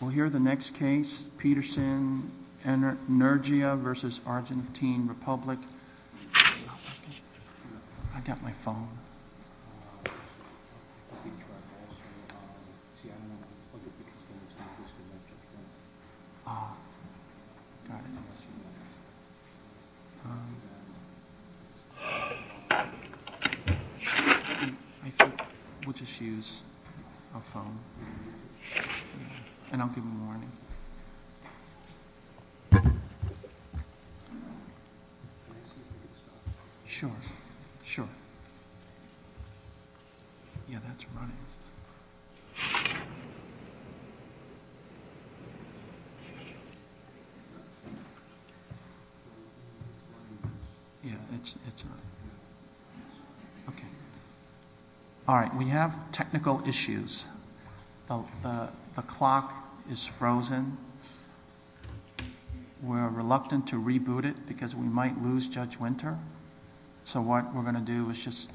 We'll hear the next case, Peterson Energia versus Argentine Republic. I've got my phone. We'll just use our phone. And I'll give them a warning. Sure, sure. Yeah, that's running. Yeah, it's on. Okay. Alright, we have technical issues. The clock is frozen. We're reluctant to reboot it because we might lose Judge Winter. So what we're going to do is just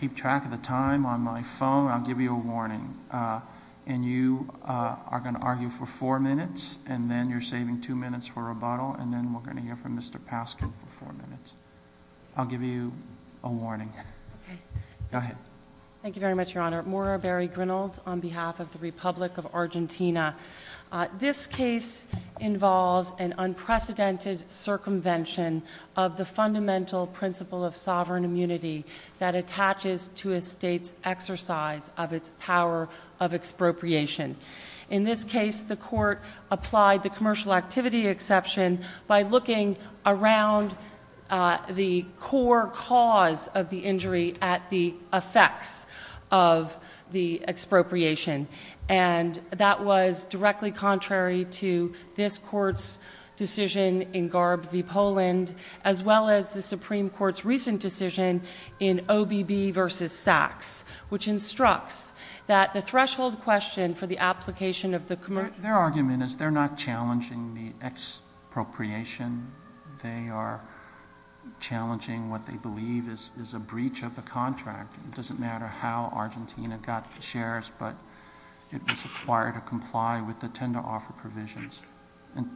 keep track of the time on my phone. I'll give you a warning. And you are going to argue for four minutes. And then you're saving two minutes for rebuttal. And then we're going to hear from Mr. Paskin for four minutes. I'll give you a warning. Okay. Go ahead. Thank you very much, Your Honor. I'm Dr. Laura Berry-Grinalds on behalf of the Republic of Argentina. This case involves an unprecedented circumvention of the fundamental principle of sovereign immunity that attaches to a state's exercise of its power of expropriation. In this case, the court applied the commercial activity exception by looking around the core cause of the injury at the effects of the expropriation. And that was directly contrary to this court's decision in Garb v. Poland, as well as the Supreme Court's recent decision in OBB v. Sachs, which instructs that the threshold question for the application of the commercial— expropriation, they are challenging what they believe is a breach of the contract. It doesn't matter how Argentina got the shares, but it was required to comply with the tender offer provisions.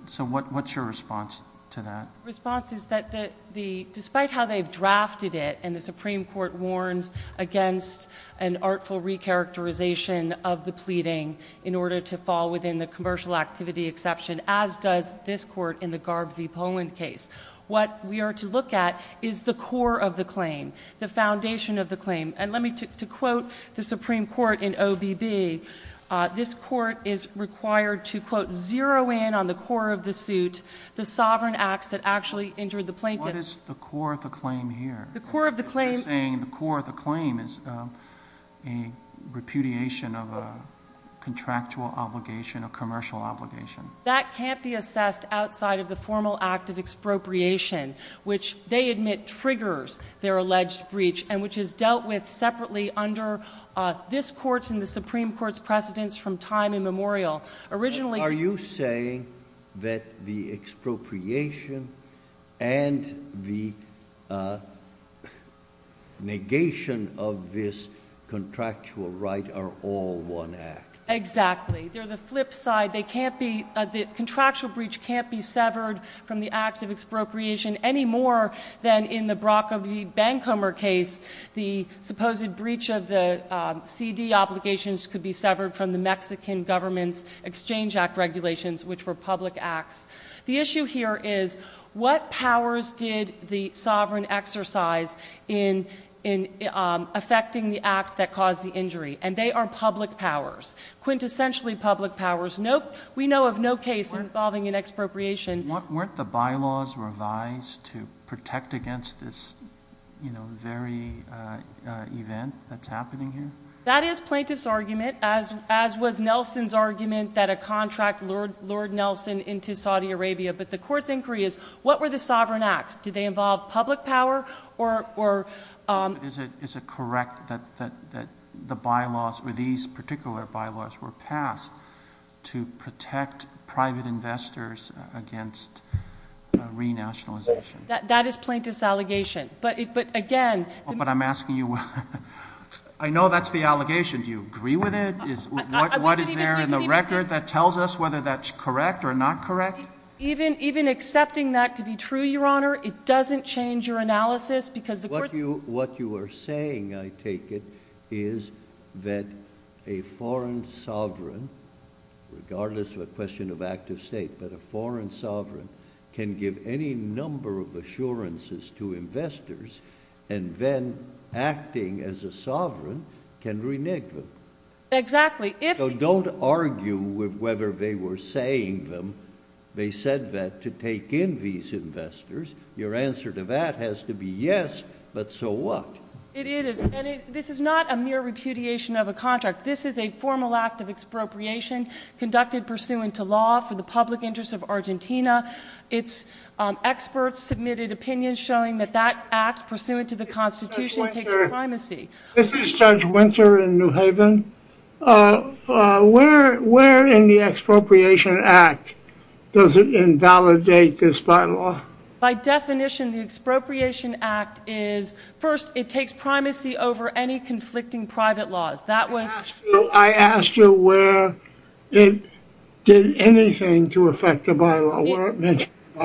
So what's your response to that? The response is that despite how they've drafted it, and the Supreme Court warns against an artful recharacterization of the pleading in order to fall within the commercial activity exception, as does this court in the Garb v. Poland case. What we are to look at is the core of the claim, the foundation of the claim. And let me—to quote the Supreme Court in OBB, this court is required to, quote, zero in on the core of the suit, the sovereign acts that actually injured the plaintiff. What is the core of the claim here? The core of the claim— They're saying the core of the claim is a repudiation of a contractual obligation, a commercial obligation. That can't be assessed outside of the formal act of expropriation, which they admit triggers their alleged breach and which is dealt with separately under this Court's and the Supreme Court's precedents from time immemorial. Originally— Are you saying that the expropriation and the negation of this contractual right are all one act? Exactly. They're the flip side. They can't be—the contractual breach can't be severed from the act of expropriation any more than in the Brock v. Bencomer case. The supposed breach of the CD obligations could be severed from the Mexican government's Exchange Act regulations, which were public acts. The issue here is what powers did the sovereign exercise in affecting the act that caused the injury? And they are public powers, quintessentially public powers. We know of no case involving an expropriation. Weren't the bylaws revised to protect against this very event that's happening here? That is Plaintiff's argument, as was Nelson's argument that a contract lured Nelson into Saudi Arabia. But the Court's inquiry is what were the sovereign acts? Did they involve public power or— Is it correct that the bylaws, or these particular bylaws, were passed to protect private investors against renationalization? That is Plaintiff's allegation. But again— But I'm asking you—I know that's the allegation. Do you agree with it? What is there in the record that tells us whether that's correct or not correct? Even accepting that to be true, Your Honor, it doesn't change your analysis because the Court's— What you are saying, I take it, is that a foreign sovereign, regardless of a question of active state, but a foreign sovereign can give any number of assurances to investors and then acting as a sovereign can renege them. Exactly. If— So don't argue with whether they were saying them. They said that to take in these investors. Your answer to that has to be yes, but so what? It is, and this is not a mere repudiation of a contract. This is a formal act of expropriation conducted pursuant to law for the public interest of Argentina. It's experts submitted opinions showing that that act, pursuant to the Constitution, takes primacy. This is Judge Winter in New Haven. Where in the expropriation act does it invalidate this bylaw? By definition, the expropriation act is— first, it takes primacy over any conflicting private laws. I asked you where it did anything to affect the bylaw, where it mentioned the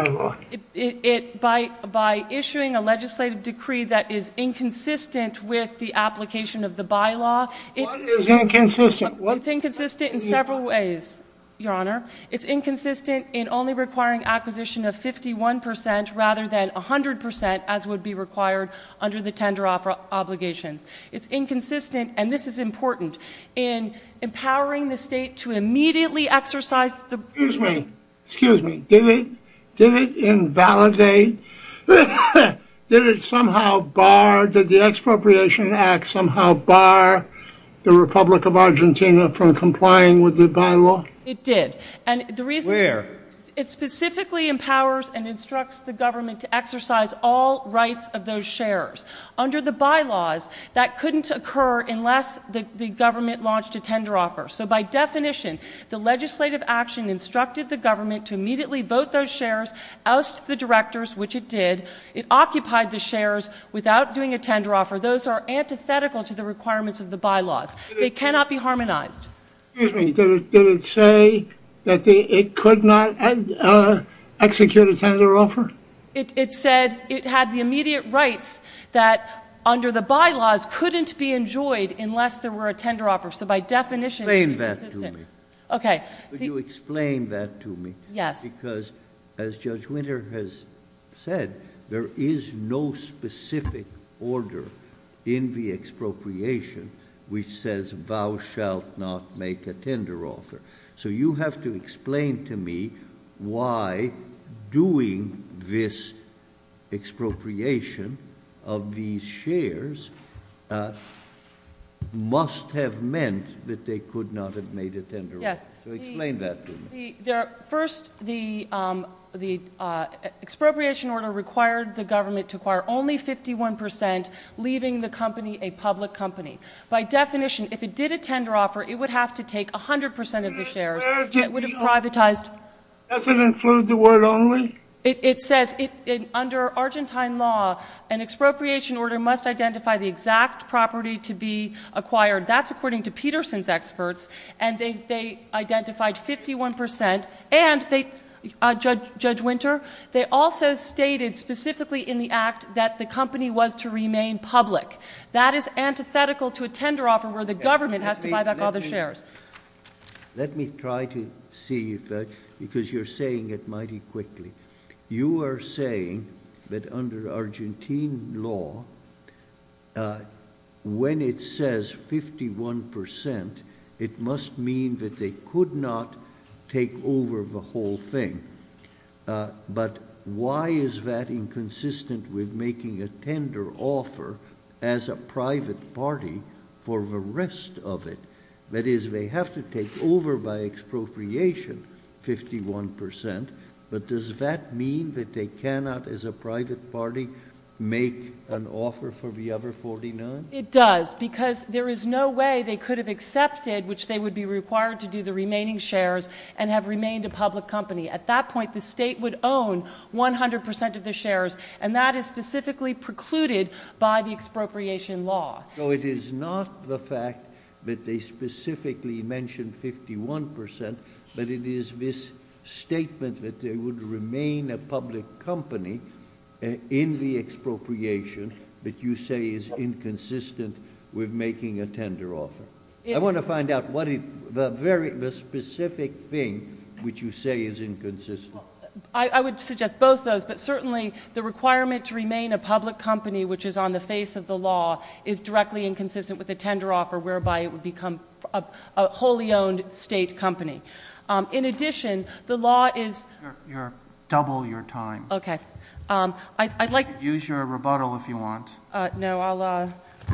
bylaw. By issuing a legislative decree that is inconsistent with the application of the bylaw— What is inconsistent? It's inconsistent in several ways, Your Honor. It's inconsistent in only requiring acquisition of 51% rather than 100%, as would be required under the tender obligations. It's inconsistent, and this is important, in empowering the state to immediately exercise the— Excuse me. Excuse me. Did it invalidate— Did it somehow bar— Did the expropriation act somehow bar the Republic of Argentina from complying with the bylaw? It did. And the reason— Where? It specifically empowers and instructs the government to exercise all rights of those shares. Under the bylaws, that couldn't occur unless the government launched a tender offer. So by definition, the legislative action instructed the government to immediately vote those shares, oust the directors, which it did. It occupied the shares without doing a tender offer. Those are antithetical to the requirements of the bylaws. They cannot be harmonized. Excuse me. Did it say that it could not execute a tender offer? It said it had the immediate rights that, under the bylaws, couldn't be enjoyed unless there were a tender offer. So by definition, it's inconsistent. Explain that to me. Okay. Could you explain that to me? Yes. Because, as Judge Winter has said, there is no specific order in the expropriation which says, thou shalt not make a tender offer. So you have to explain to me why doing this expropriation of these shares must have meant that they could not have made a tender offer. Yes. So explain that to me. First, the expropriation order required the government to acquire only 51%, leaving the company a public company. By definition, if it did a tender offer, it would have to take 100% of the shares. It would have privatized. Does it include the word only? It says, under Argentine law, an expropriation order must identify the exact property to be acquired. That's according to Peterson's experts. And they identified 51%. And, Judge Winter, they also stated specifically in the act that the company was to remain public. That is antithetical to a tender offer where the government has to buy back all the shares. Let me try to see, because you're saying it mighty quickly. You are saying that under Argentine law, when it says 51%, it must mean that they could not take over the whole thing. But why is that inconsistent with making a tender offer as a private party for the rest of it? That is, they have to take over by expropriation 51%. But does that mean that they cannot, as a private party, make an offer for the other 49? It does, because there is no way they could have accepted, which they would be required to do, the remaining shares and have remained a public company. At that point, the state would own 100% of the shares, and that is specifically precluded by the expropriation law. So it is not the fact that they specifically mentioned 51%, but it is this statement that they would remain a public company in the expropriation that you say is inconsistent with making a tender offer. I want to find out the specific thing which you say is inconsistent. I would suggest both those, but certainly the requirement to remain a public company, which is on the face of the law, is directly inconsistent with a tender offer, whereby it would become a wholly owned state company. In addition, the law is— Double your time. Okay. Use your rebuttal if you want. No,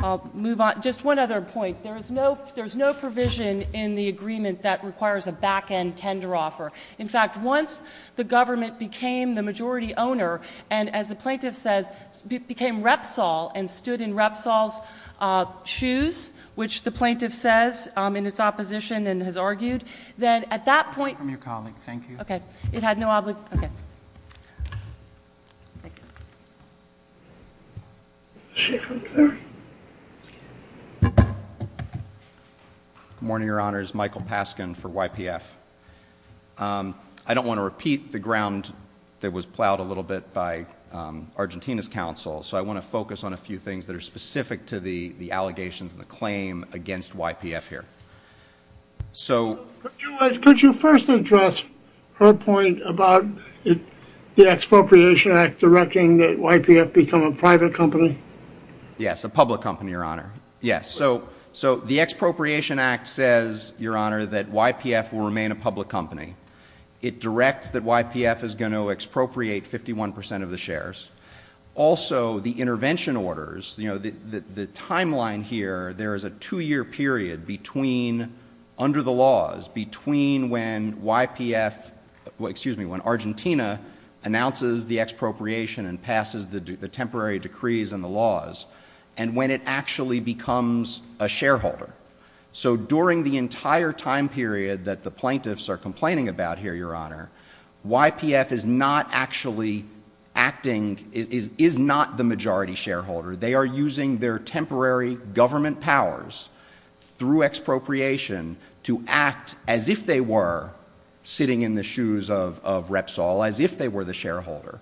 I'll move on. Just one other point. There is no provision in the agreement that requires a back-end tender offer. In fact, once the government became the majority owner, and as the plaintiff says, became Repsol and stood in Repsol's shoes, which the plaintiff says in its opposition and has argued, then at that point— From your colleague. Thank you. Okay. It had no obligation—okay. Thank you. Good morning, Your Honors. Michael Paskin for YPF. I don't want to repeat the ground that was plowed a little bit by Argentina's counsel, so I want to focus on a few things that are specific to the allegations and the claim against YPF here. So— Could you first address her point about the Expropriation Act directing that YPF become a private company? Yes, a public company, Your Honor. Yes. So the Expropriation Act says, Your Honor, that YPF will remain a public company. It directs that YPF is going to expropriate 51 percent of the shares. Also, the intervention orders, you know, the timeline here, there is a two-year period between—under the laws, between when YPF—well, excuse me, when Argentina announces the expropriation and passes the temporary decrees and the laws, and when it actually becomes a shareholder. So during the entire time period that the plaintiffs are complaining about here, Your Honor, YPF is not actually acting—is not the majority shareholder. They are using their temporary government powers through expropriation to act as if they were sitting in the shoes of Repsol, as if they were the shareholder.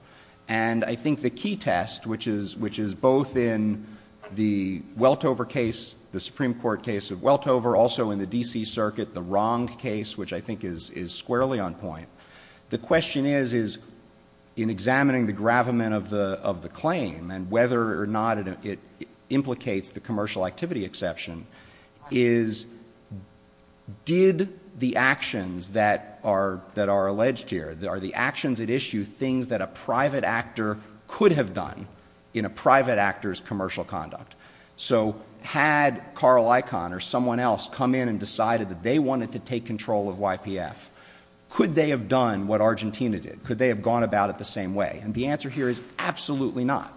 And I think the key test, which is both in the Weltover case, the Supreme Court case of Weltover, also in the D.C. Circuit, the Wrong case, which I think is squarely on point, the question is, in examining the gravamen of the claim and whether or not it implicates the commercial activity exception, is did the actions that are alleged here, are the actions at issue things that a private actor could have done in a private actor's commercial conduct? So had Carl Icahn or someone else come in and decided that they wanted to take control of YPF, could they have done what Argentina did? Could they have gone about it the same way? And the answer here is absolutely not.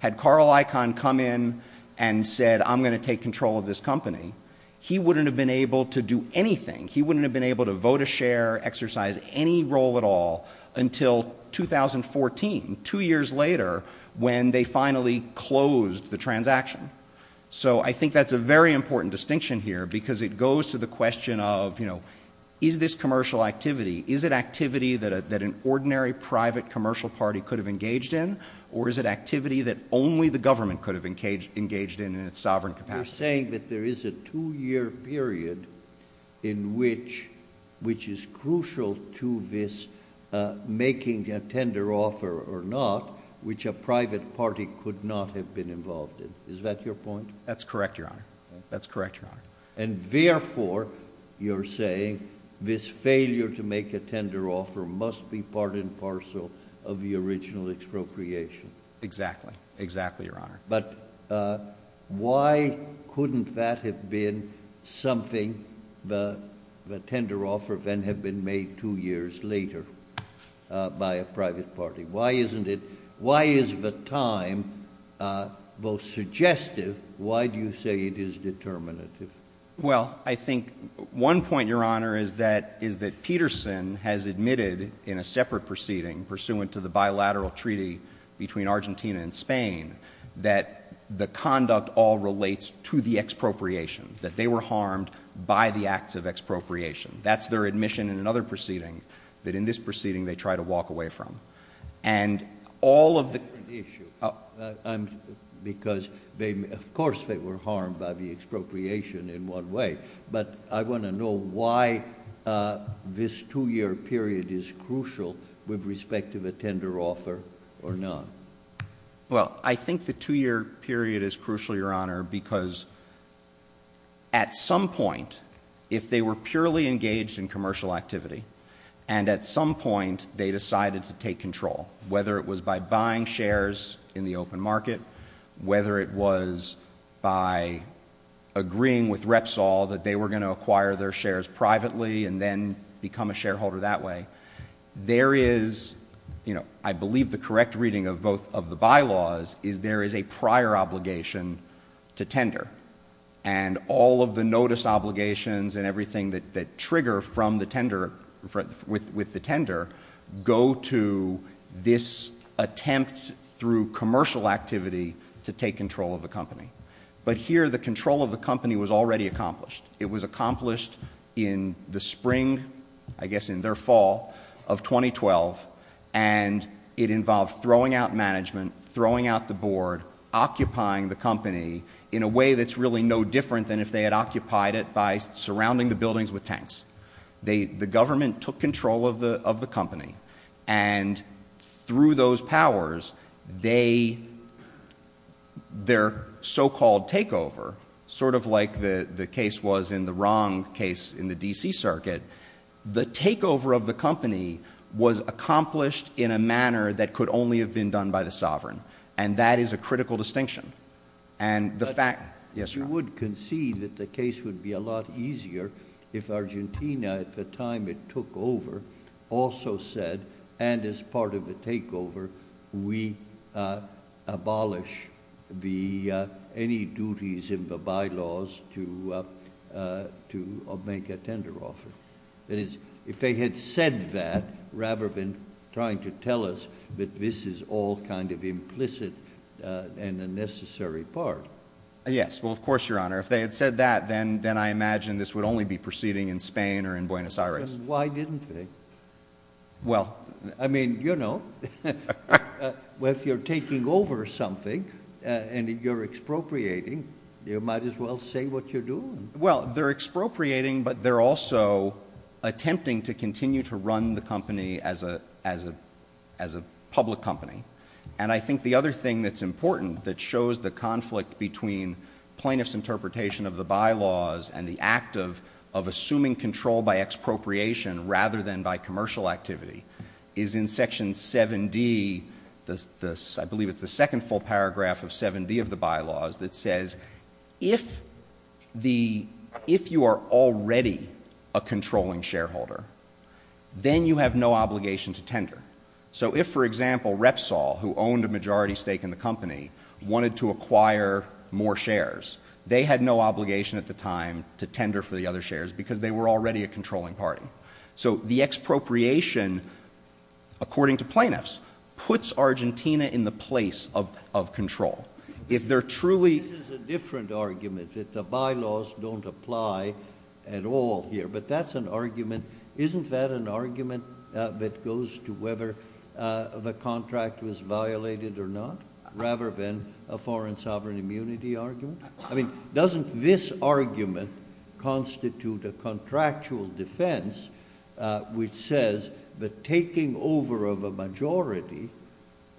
Had Carl Icahn come in and said, I'm going to take control of this company, he wouldn't have been able to do anything. He wouldn't have been able to vote a share, exercise any role at all until 2014, two years later, when they finally closed the transaction. So I think that's a very important distinction here because it goes to the question of, you know, is this commercial activity, is it activity that an ordinary private commercial party could have engaged in, or is it activity that only the government could have engaged in in its sovereign capacity? You're saying that there is a two-year period in which, which is crucial to this making a tender offer or not, which a private party could not have been involved in. Is that your point? That's correct, Your Honor. That's correct, Your Honor. And therefore, you're saying, this failure to make a tender offer must be part and parcel of the original expropriation. Exactly. Exactly, Your Honor. But why couldn't that have been something, the tender offer then had been made two years later by a private party? Why isn't it, why is the time both suggestive, why do you say it is determinative? Well, I think one point, Your Honor, is that Peterson has admitted in a separate proceeding, pursuant to the bilateral treaty between Argentina and Spain, that the conduct all relates to the expropriation, that they were harmed by the acts of expropriation. That's their admission in another proceeding, that in this proceeding they try to walk away from. And all of the— That's not the issue. Because they, of course, they were harmed by the expropriation in one way. But I want to know why this two-year period is crucial with respect to the tender offer or not. Well, I think the two-year period is crucial, Your Honor, because at some point, if they were purely engaged in commercial activity, and at some point they decided to take control, whether it was by buying shares in the open market, whether it was by agreeing with Repsol that they were going to acquire their shares privately and then become a shareholder that way, there is, you know, I believe the correct reading of both of the bylaws is there is a prior obligation to tender. And all of the notice obligations and everything that trigger from the tender, with the tender, go to this attempt through commercial activity to take control of the company. But here the control of the company was already accomplished. It was accomplished in the spring, I guess in their fall, of 2012. And it involved throwing out management, throwing out the board, occupying the company in a way that's really no different than if they had occupied it by surrounding the buildings with tanks. The government took control of the company. And through those powers, their so-called takeover, sort of like the case was in the wrong case in the D.C. Circuit, the takeover of the company was accomplished in a manner that could only have been done by the sovereign. And that is a critical distinction. You would concede that the case would be a lot easier if Argentina, at the time it took over, also said, and as part of the takeover, we abolish any duties in the bylaws to make a tender offer. That is, if they had said that rather than trying to tell us that this is all kind of implicit and a necessary part. Yes, well, of course, Your Honor. If they had said that, then I imagine this would only be proceeding in Spain or in Buenos Aires. Why didn't they? Well. I mean, you know, if you're taking over something and you're expropriating, you might as well say what you're doing. Well, they're expropriating, but they're also attempting to continue to run the company as a public company. And I think the other thing that's important that shows the conflict between plaintiff's interpretation of the bylaws and the act of assuming control by expropriation rather than by commercial activity is in Section 7D. I believe it's the second full paragraph of 7D of the bylaws that says, if you are already a controlling shareholder, then you have no obligation to tender. So if, for example, Repsol, who owned a majority stake in the company, wanted to acquire more shares, they had no obligation at the time to tender for the other shares because they were already a controlling party. So the expropriation, according to plaintiffs, puts Argentina in the place of control. This is a different argument that the bylaws don't apply at all here, but that's an argument. Isn't that an argument that goes to whether the contract was violated or not, rather than a foreign sovereign immunity argument? I mean, doesn't this argument constitute a contractual defense which says the taking over of a majority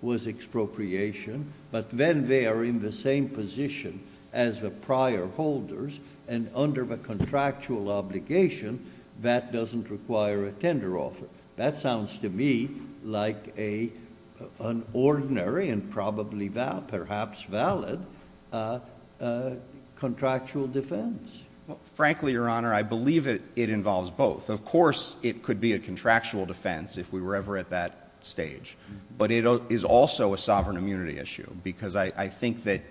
was expropriation, but then they are in the same position as the prior holders, and under the contractual obligation, that doesn't require a tender offer? That sounds to me like an ordinary and probably perhaps valid contractual defense. Frankly, Your Honor, I believe it involves both. Of course it could be a contractual defense if we were ever at that stage, but it is also a sovereign immunity issue because I think that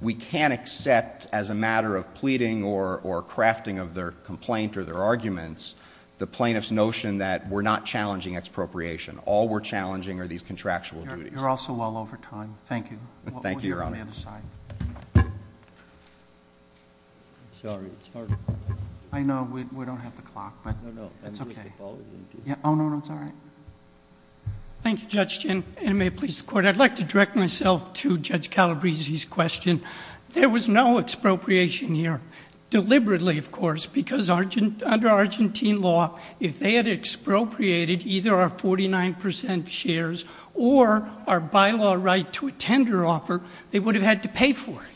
we can't accept as a matter of pleading or crafting of their complaint or their arguments the plaintiff's notion that we're not challenging expropriation. All we're challenging are these contractual duties. You're also well over time. Thank you. Thank you, Your Honor. We'll hear from the other side. Sorry. I know. We don't have the clock, but it's okay. Oh, no, no. It's all right. Thank you, Judge Chin. And may it please the Court, I'd like to direct myself to Judge Calabresi's question. There was no expropriation here, deliberately, of course, because under Argentine law, if they had expropriated either our 49% shares or our bylaw right to a tender offer, they would have had to pay for it.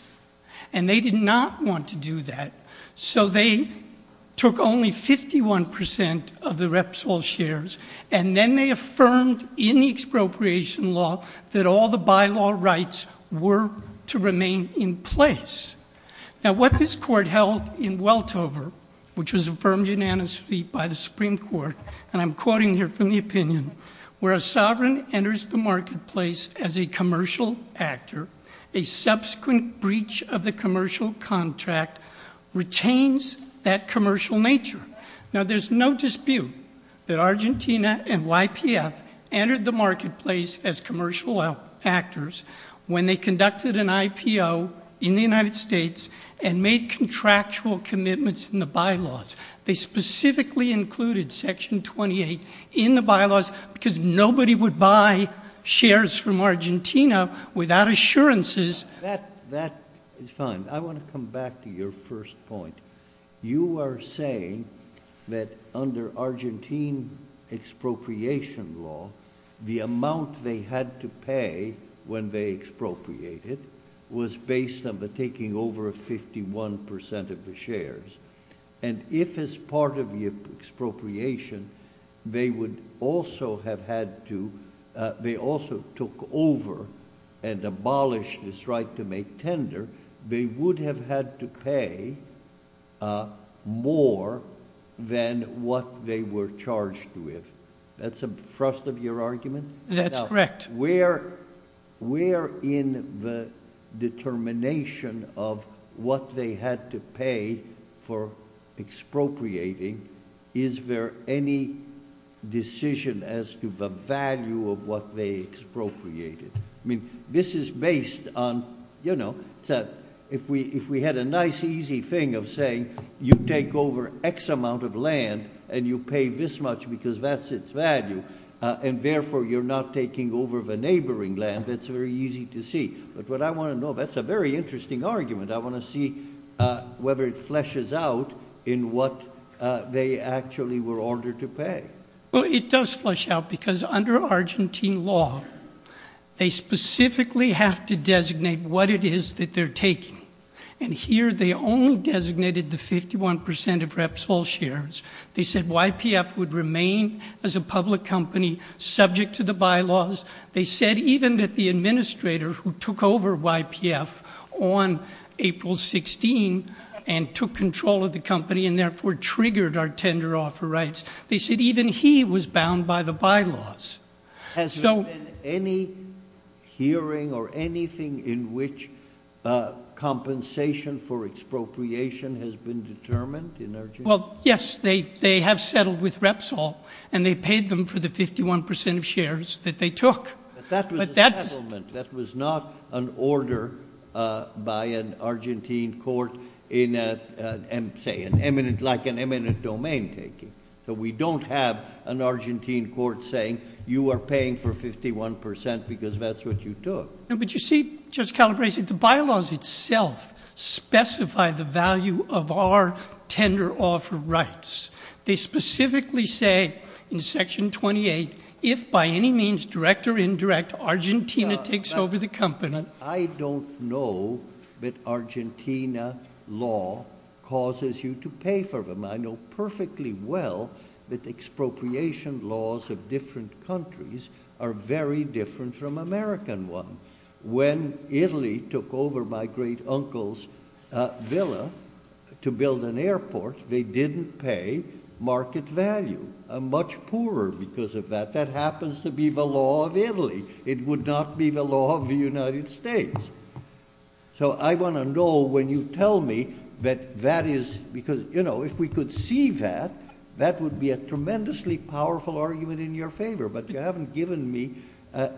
And they did not want to do that, so they took only 51% of the Repsol shares, and then they affirmed in the expropriation law that all the bylaw rights were to remain in place. Now, what this Court held in Weltover, which was affirmed unanimously by the Supreme Court, and I'm quoting here from the opinion, where a sovereign enters the marketplace as a commercial actor, a subsequent breach of the commercial contract retains that commercial nature. Now, there's no dispute that Argentina and YPF entered the marketplace as commercial actors when they conducted an IPO in the United States and made contractual commitments in the bylaws. They specifically included Section 28 in the bylaws because nobody would buy shares from Argentina without assurances. That is fine. I want to come back to your first point. You are saying that under Argentine expropriation law, the amount they had to pay when they expropriated was based on the taking over of 51% of the shares, and if as part of the expropriation they would also have had to— they also took over and abolished this right to make tender, they would have had to pay more than what they were charged with. That's a thrust of your argument? That's correct. Now, where in the determination of what they had to pay for expropriating, is there any decision as to the value of what they expropriated? I mean, this is based on, you know, if we had a nice easy thing of saying you take over X amount of land and you pay this much because that's its value, and therefore you're not taking over the neighboring land, that's very easy to see. But what I want to know, that's a very interesting argument. I want to see whether it fleshes out in what they actually were ordered to pay. Well, it does flesh out because under Argentine law, they specifically have to designate what it is that they're taking, and here they only designated the 51% of Repsol shares. They said YPF would remain as a public company subject to the bylaws. They said even that the administrator who took over YPF on April 16 and took control of the company and therefore triggered our tender offer rights, they said even he was bound by the bylaws. Has there been any hearing or anything in which compensation for expropriation has been determined in Argentina? Well, yes, they have settled with Repsol, and they paid them for the 51% of shares that they took. But that was a settlement. So we don't have an Argentine court saying you are paying for 51% because that's what you took. But you see, Judge Calabresi, the bylaws itself specify the value of our tender offer rights. They specifically say in Section 28, if by any means direct or indirect, Argentina takes over the company. I don't know that Argentina law causes you to pay for them. I know perfectly well that the expropriation laws of different countries are very different from American one. When Italy took over my great uncle's villa to build an airport, they didn't pay market value. Much poorer because of that. That happens to be the law of Italy. It would not be the law of the United States. So I want to know when you tell me that that is because, you know, if we could see that, that would be a tremendously powerful argument in your favor. But you haven't given me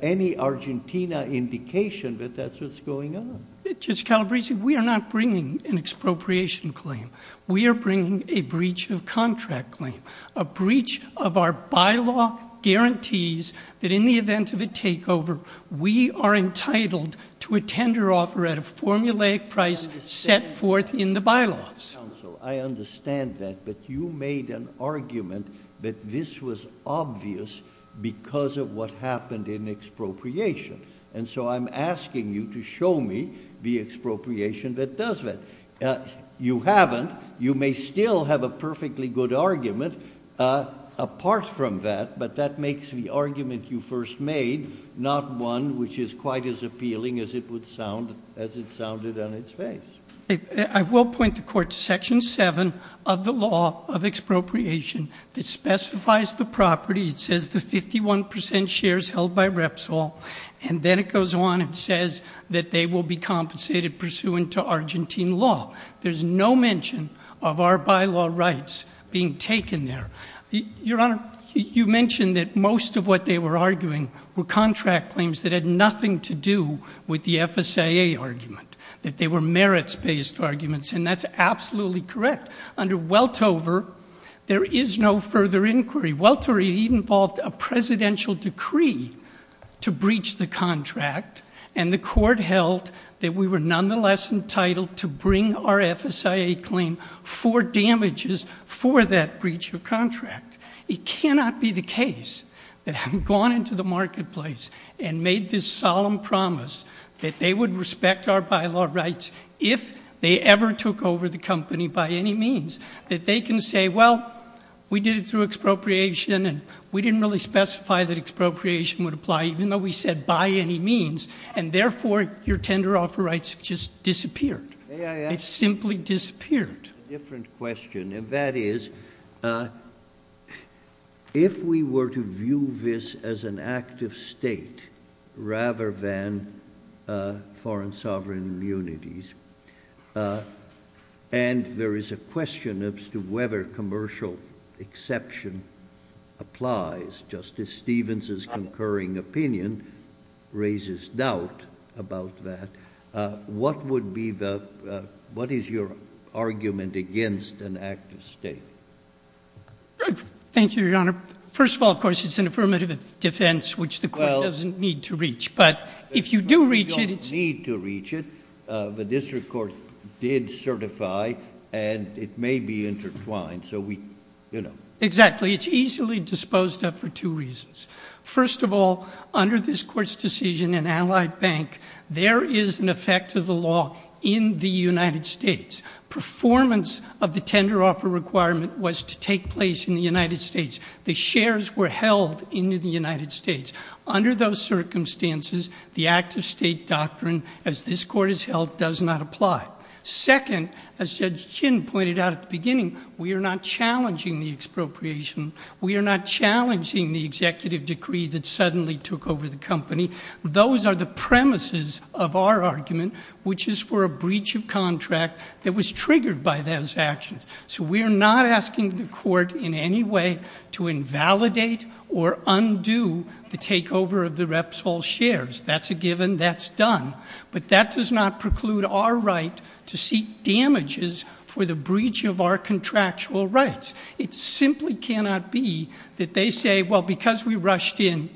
any Argentina indication that that's what's going on. Judge Calabresi, we are not bringing an expropriation claim. We are bringing a breach of contract claim. A breach of our bylaw guarantees that in the event of a takeover, we are entitled to a tender offer at a formulaic price set forth in the bylaws. Counsel, I understand that, but you made an argument that this was obvious because of what happened in expropriation. And so I'm asking you to show me the expropriation that does that. You haven't. You may still have a perfectly good argument apart from that, but that makes the argument you first made not one which is quite as appealing as it sounded on its face. I will point the court to section 7 of the law of expropriation that specifies the property. It says the 51 percent shares held by Repsol, and then it goes on and says that they will be compensated pursuant to Argentine law. There's no mention of our bylaw rights being taken there. Your Honor, you mentioned that most of what they were arguing were contract claims that had nothing to do with the FSIA argument, that they were merits-based arguments. And that's absolutely correct. Under Weltover, there is no further inquiry. Weltover involved a presidential decree to breach the contract, and the court held that we were nonetheless entitled to bring our FSIA claim for damages for that breach of contract. It cannot be the case that having gone into the marketplace and made this solemn promise that they would respect our bylaw rights if they ever took over the company by any means, that they can say, well, we did it through expropriation and we didn't really specify that expropriation would apply even though we said by any means, and therefore your tender offer rights have just disappeared. They've simply disappeared. A different question, and that is, if we were to view this as an act of state rather than foreign sovereign immunities, and there is a question as to whether commercial exception applies, Justice Stevens' concurring opinion raises doubt about that. What is your argument against an act of state? Thank you, Your Honor. First of all, of course, it's an affirmative defense, which the court doesn't need to reach. But if you do reach it, it's— We don't need to reach it. The district court did certify, and it may be intertwined. Exactly. It's easily disposed of for two reasons. First of all, under this court's decision in Allied Bank, there is an effect of the law in the United States. Performance of the tender offer requirement was to take place in the United States. The shares were held in the United States. Under those circumstances, the act of state doctrine, as this court has held, does not apply. Second, as Judge Chin pointed out at the beginning, we are not challenging the expropriation. We are not challenging the executive decree that suddenly took over the company. Those are the premises of our argument, which is for a breach of contract that was triggered by those actions. So we are not asking the court in any way to invalidate or undo the takeover of the Repsol shares. That's a given. That's done. But that does not preclude our right to seek damages for the breach of our contractual rights. It simply cannot be that they say, well, because we rushed in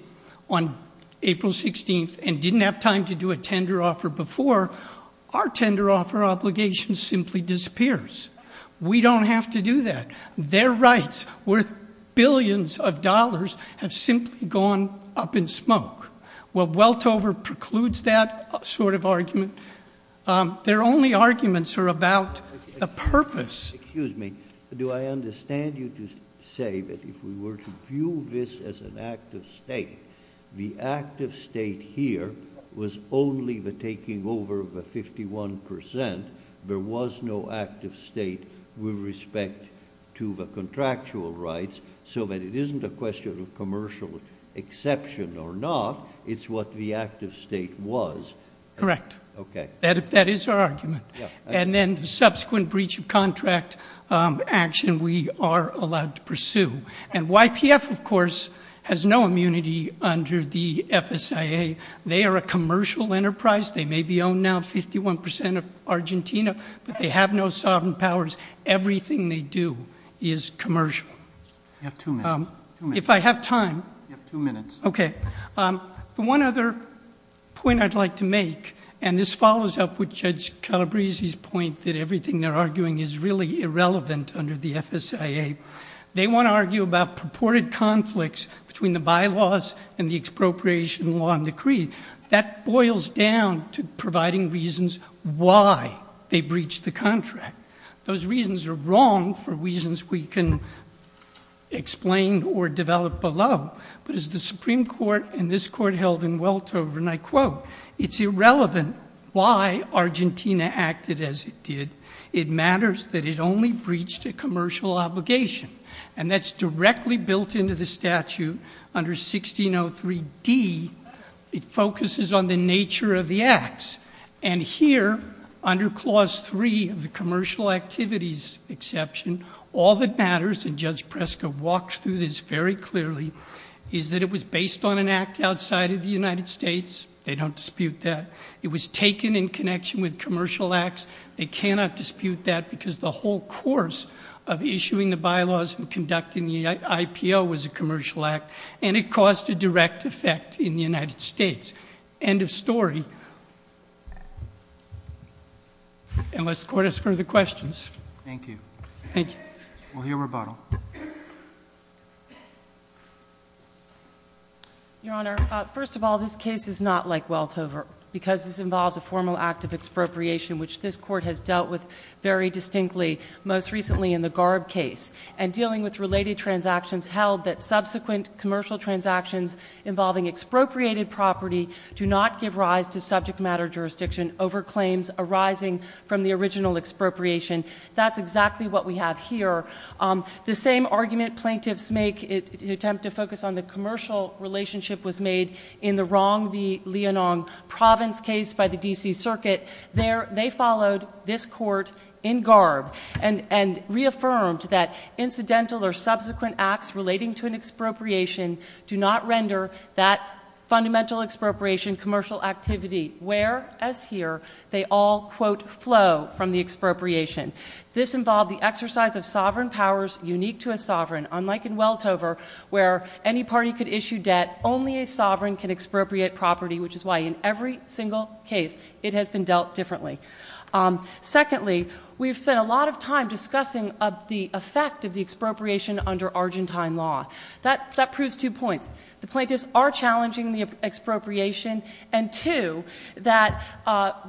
on April 16th and didn't have time to do a tender offer before, our tender offer obligation simply disappears. We don't have to do that. Their rights worth billions of dollars have simply gone up in smoke. Well, Weltover precludes that sort of argument. Their only arguments are about the purpose. Excuse me. Do I understand you to say that if we were to view this as an act of state, the act of state here was only the taking over of the 51 percent? There was no act of state with respect to the contractual rights, so that it isn't a question of commercial exception or not. It's what the act of state was. Correct. Okay. That is our argument. And then the subsequent breach of contract action we are allowed to pursue. And YPF, of course, has no immunity under the FSIA. They are a commercial enterprise. They may be owned now 51 percent of Argentina, but they have no sovereign powers. Everything they do is commercial. You have two minutes. If I have time. You have two minutes. Okay. The one other point I'd like to make, and this follows up with Judge Calabresi's point that everything they're arguing is really irrelevant under the FSIA. They want to argue about purported conflicts between the bylaws and the expropriation law and decree. That boils down to providing reasons why they breached the contract. Those reasons are wrong for reasons we can explain or develop below. But as the Supreme Court and this Court held in Weltover, and I quote, it's irrelevant why Argentina acted as it did. It matters that it only breached a commercial obligation. And that's directly built into the statute under 1603D. It focuses on the nature of the acts. And here, under Clause 3 of the Commercial Activities Exception, all that matters, and Judge Preska walked through this very clearly, is that it was based on an act outside of the United States. They don't dispute that. It was taken in connection with commercial acts. They cannot dispute that because the whole course of issuing the bylaws and conducting the IPO was a commercial act, and it caused a direct effect in the United States. End of story. Unless the Court has further questions. Thank you. Thank you. We'll hear rebuttal. Your Honor, first of all, this case is not like Weltover because this involves a formal act of expropriation, which this Court has dealt with very distinctly, most recently in the Garb case, and dealing with related transactions held that subsequent commercial transactions involving expropriated property do not give rise to subject matter jurisdiction over claims arising from the original expropriation. That's exactly what we have here. The same argument plaintiffs make in an attempt to focus on the commercial relationship was made in the wrong, the Leonong Province case by the D.C. Circuit. They followed this Court in Garb and reaffirmed that incidental or subsequent acts relating to an expropriation do not render that fundamental expropriation commercial activity, whereas here they all, quote, flow from the expropriation. This involved the exercise of sovereign powers unique to a sovereign, unlike in Weltover where any party could issue debt, only a sovereign can expropriate property, which is why in every single case it has been dealt differently. Secondly, we've spent a lot of time discussing the effect of the expropriation under Argentine law. That proves two points. The plaintiffs are challenging the expropriation, and two, that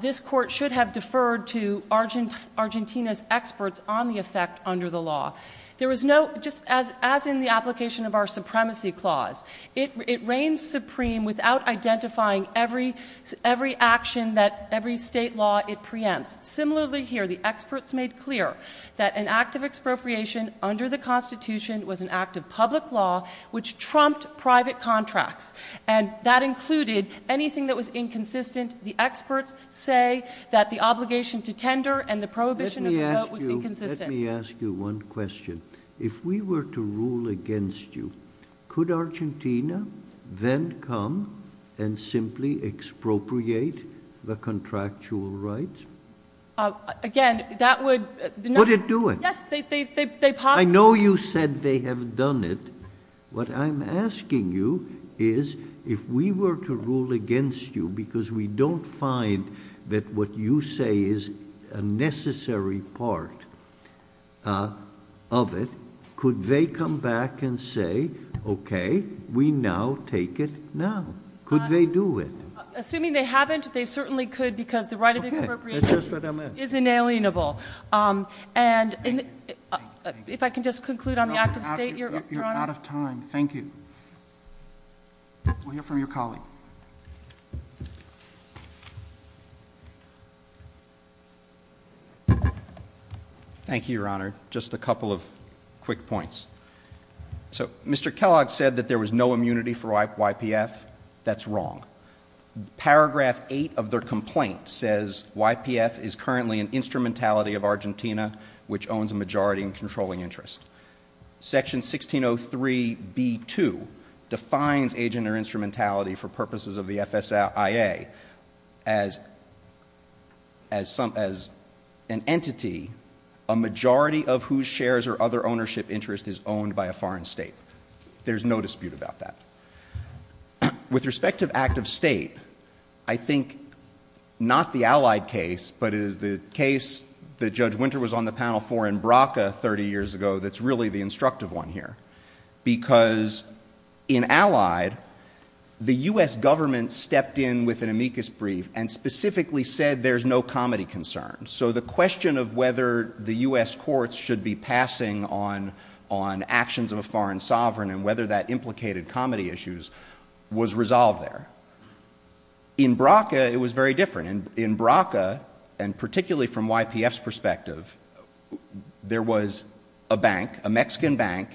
this Court should have deferred to Argentina's experts on the effect under the law. There was no, just as in the application of our supremacy clause, it reigns supreme without identifying every action that every state law it preempts. Similarly here, the experts made clear that an act of expropriation under the Constitution was an act of public law which trumped private contracts, and that included anything that was inconsistent. The experts say that the obligation to tender and the prohibition of the vote was inconsistent. Let me ask you one question. If we were to rule against you, could Argentina then come and simply expropriate the contractual rights? Again, that would not- Would it do it? Yes, they possibly- I know you said they have done it. What I'm asking you is if we were to rule against you because we don't find that what you say is a necessary part of it, could they come back and say, okay, we now take it now? Could they do it? Assuming they haven't, they certainly could because the right of expropriation is inalienable. If I can just conclude on the act of state, Your Honor. You're out of time. Thank you. We'll hear from your colleague. Thank you, Your Honor. Just a couple of quick points. So Mr. Kellogg said that there was no immunity for YPF. That's wrong. Paragraph 8 of their complaint says YPF is currently an instrumentality of Argentina which owns a majority in controlling interest. Section 1603b-2 defines agent or instrumentality for purposes of the FSIA as an entity a majority of whose shares or other ownership interest is owned by a foreign state. There's no dispute about that. With respect to act of state, I think not the Allied case, but it is the case that Judge Winter was on the panel for in BRCA 30 years ago that's really the instructive one here. Because in Allied, the U.S. government stepped in with an amicus brief and specifically said there's no comedy concern. So the question of whether the U.S. courts should be passing on actions of a foreign sovereign and whether that implicated comedy issues was resolved there. In BRCA, it was very different. In BRCA, and particularly from YPF's perspective, there was a bank, a Mexican bank,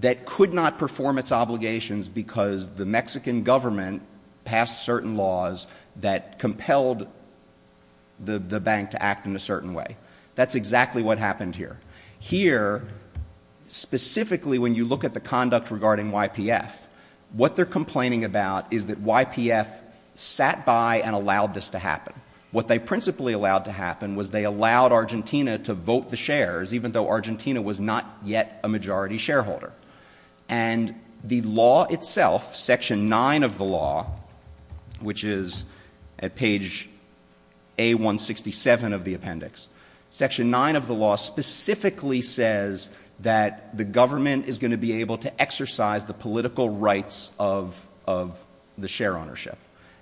that could not perform its obligations because the Mexican government passed certain laws that compelled the bank to act in a certain way. That's exactly what happened here. Here, specifically when you look at the conduct regarding YPF, what they're complaining about is that YPF sat by and allowed this to happen. What they principally allowed to happen was they allowed Argentina to vote the shares even though Argentina was not yet a majority shareholder. And the law itself, Section 9 of the law, which is at page A167 of the appendix, Section 9 of the law specifically says that the government is going to be able to exercise the political rights of the share ownership.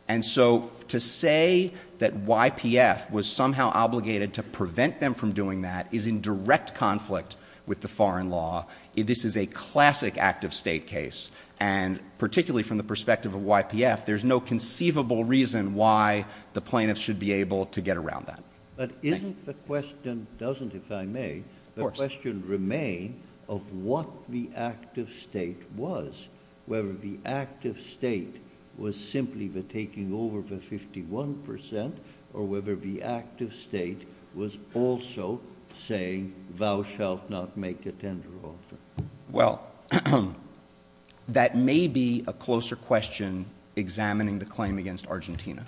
And so to say that YPF was somehow obligated to prevent them from doing that is in direct conflict with the foreign law. This is a classic active state case, and particularly from the perspective of YPF, there's no conceivable reason why the plaintiffs should be able to get around that. But isn't the question, doesn't, if I may, the question remain of what the active state was, whether the active state was simply the taking over for 51 percent or whether the active state was also saying thou shalt not make a tender offer. Well, that may be a closer question examining the claim against Argentina.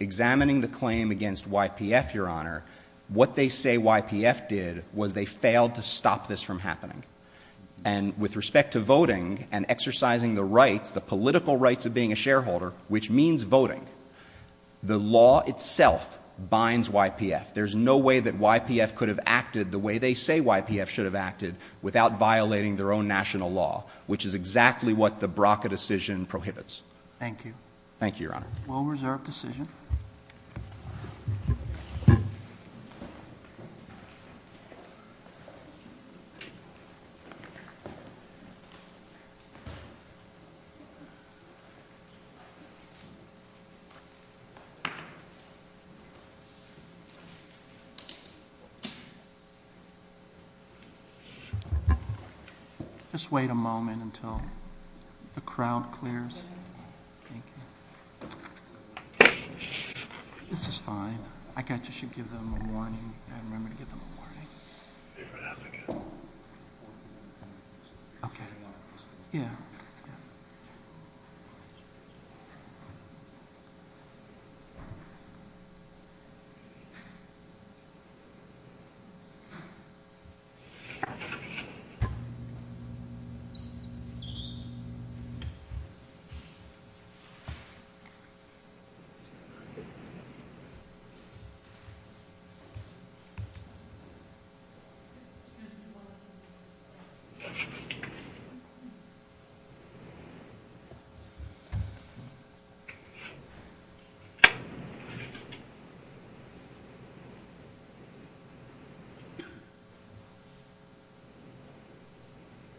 Examining the claim against YPF, Your Honor, what they say YPF did was they failed to stop this from happening. And with respect to voting and exercising the rights, the political rights of being a shareholder, which means voting, the law itself binds YPF. There's no way that YPF could have acted the way they say YPF should have acted without violating their own national law, which is exactly what the BRCA decision prohibits. Thank you. Thank you, Your Honor. Well-reserved decision. Just wait a moment until the crowd clears. Thank you. This is fine. I should give them a warning. I remember to give them a warning. Thank you.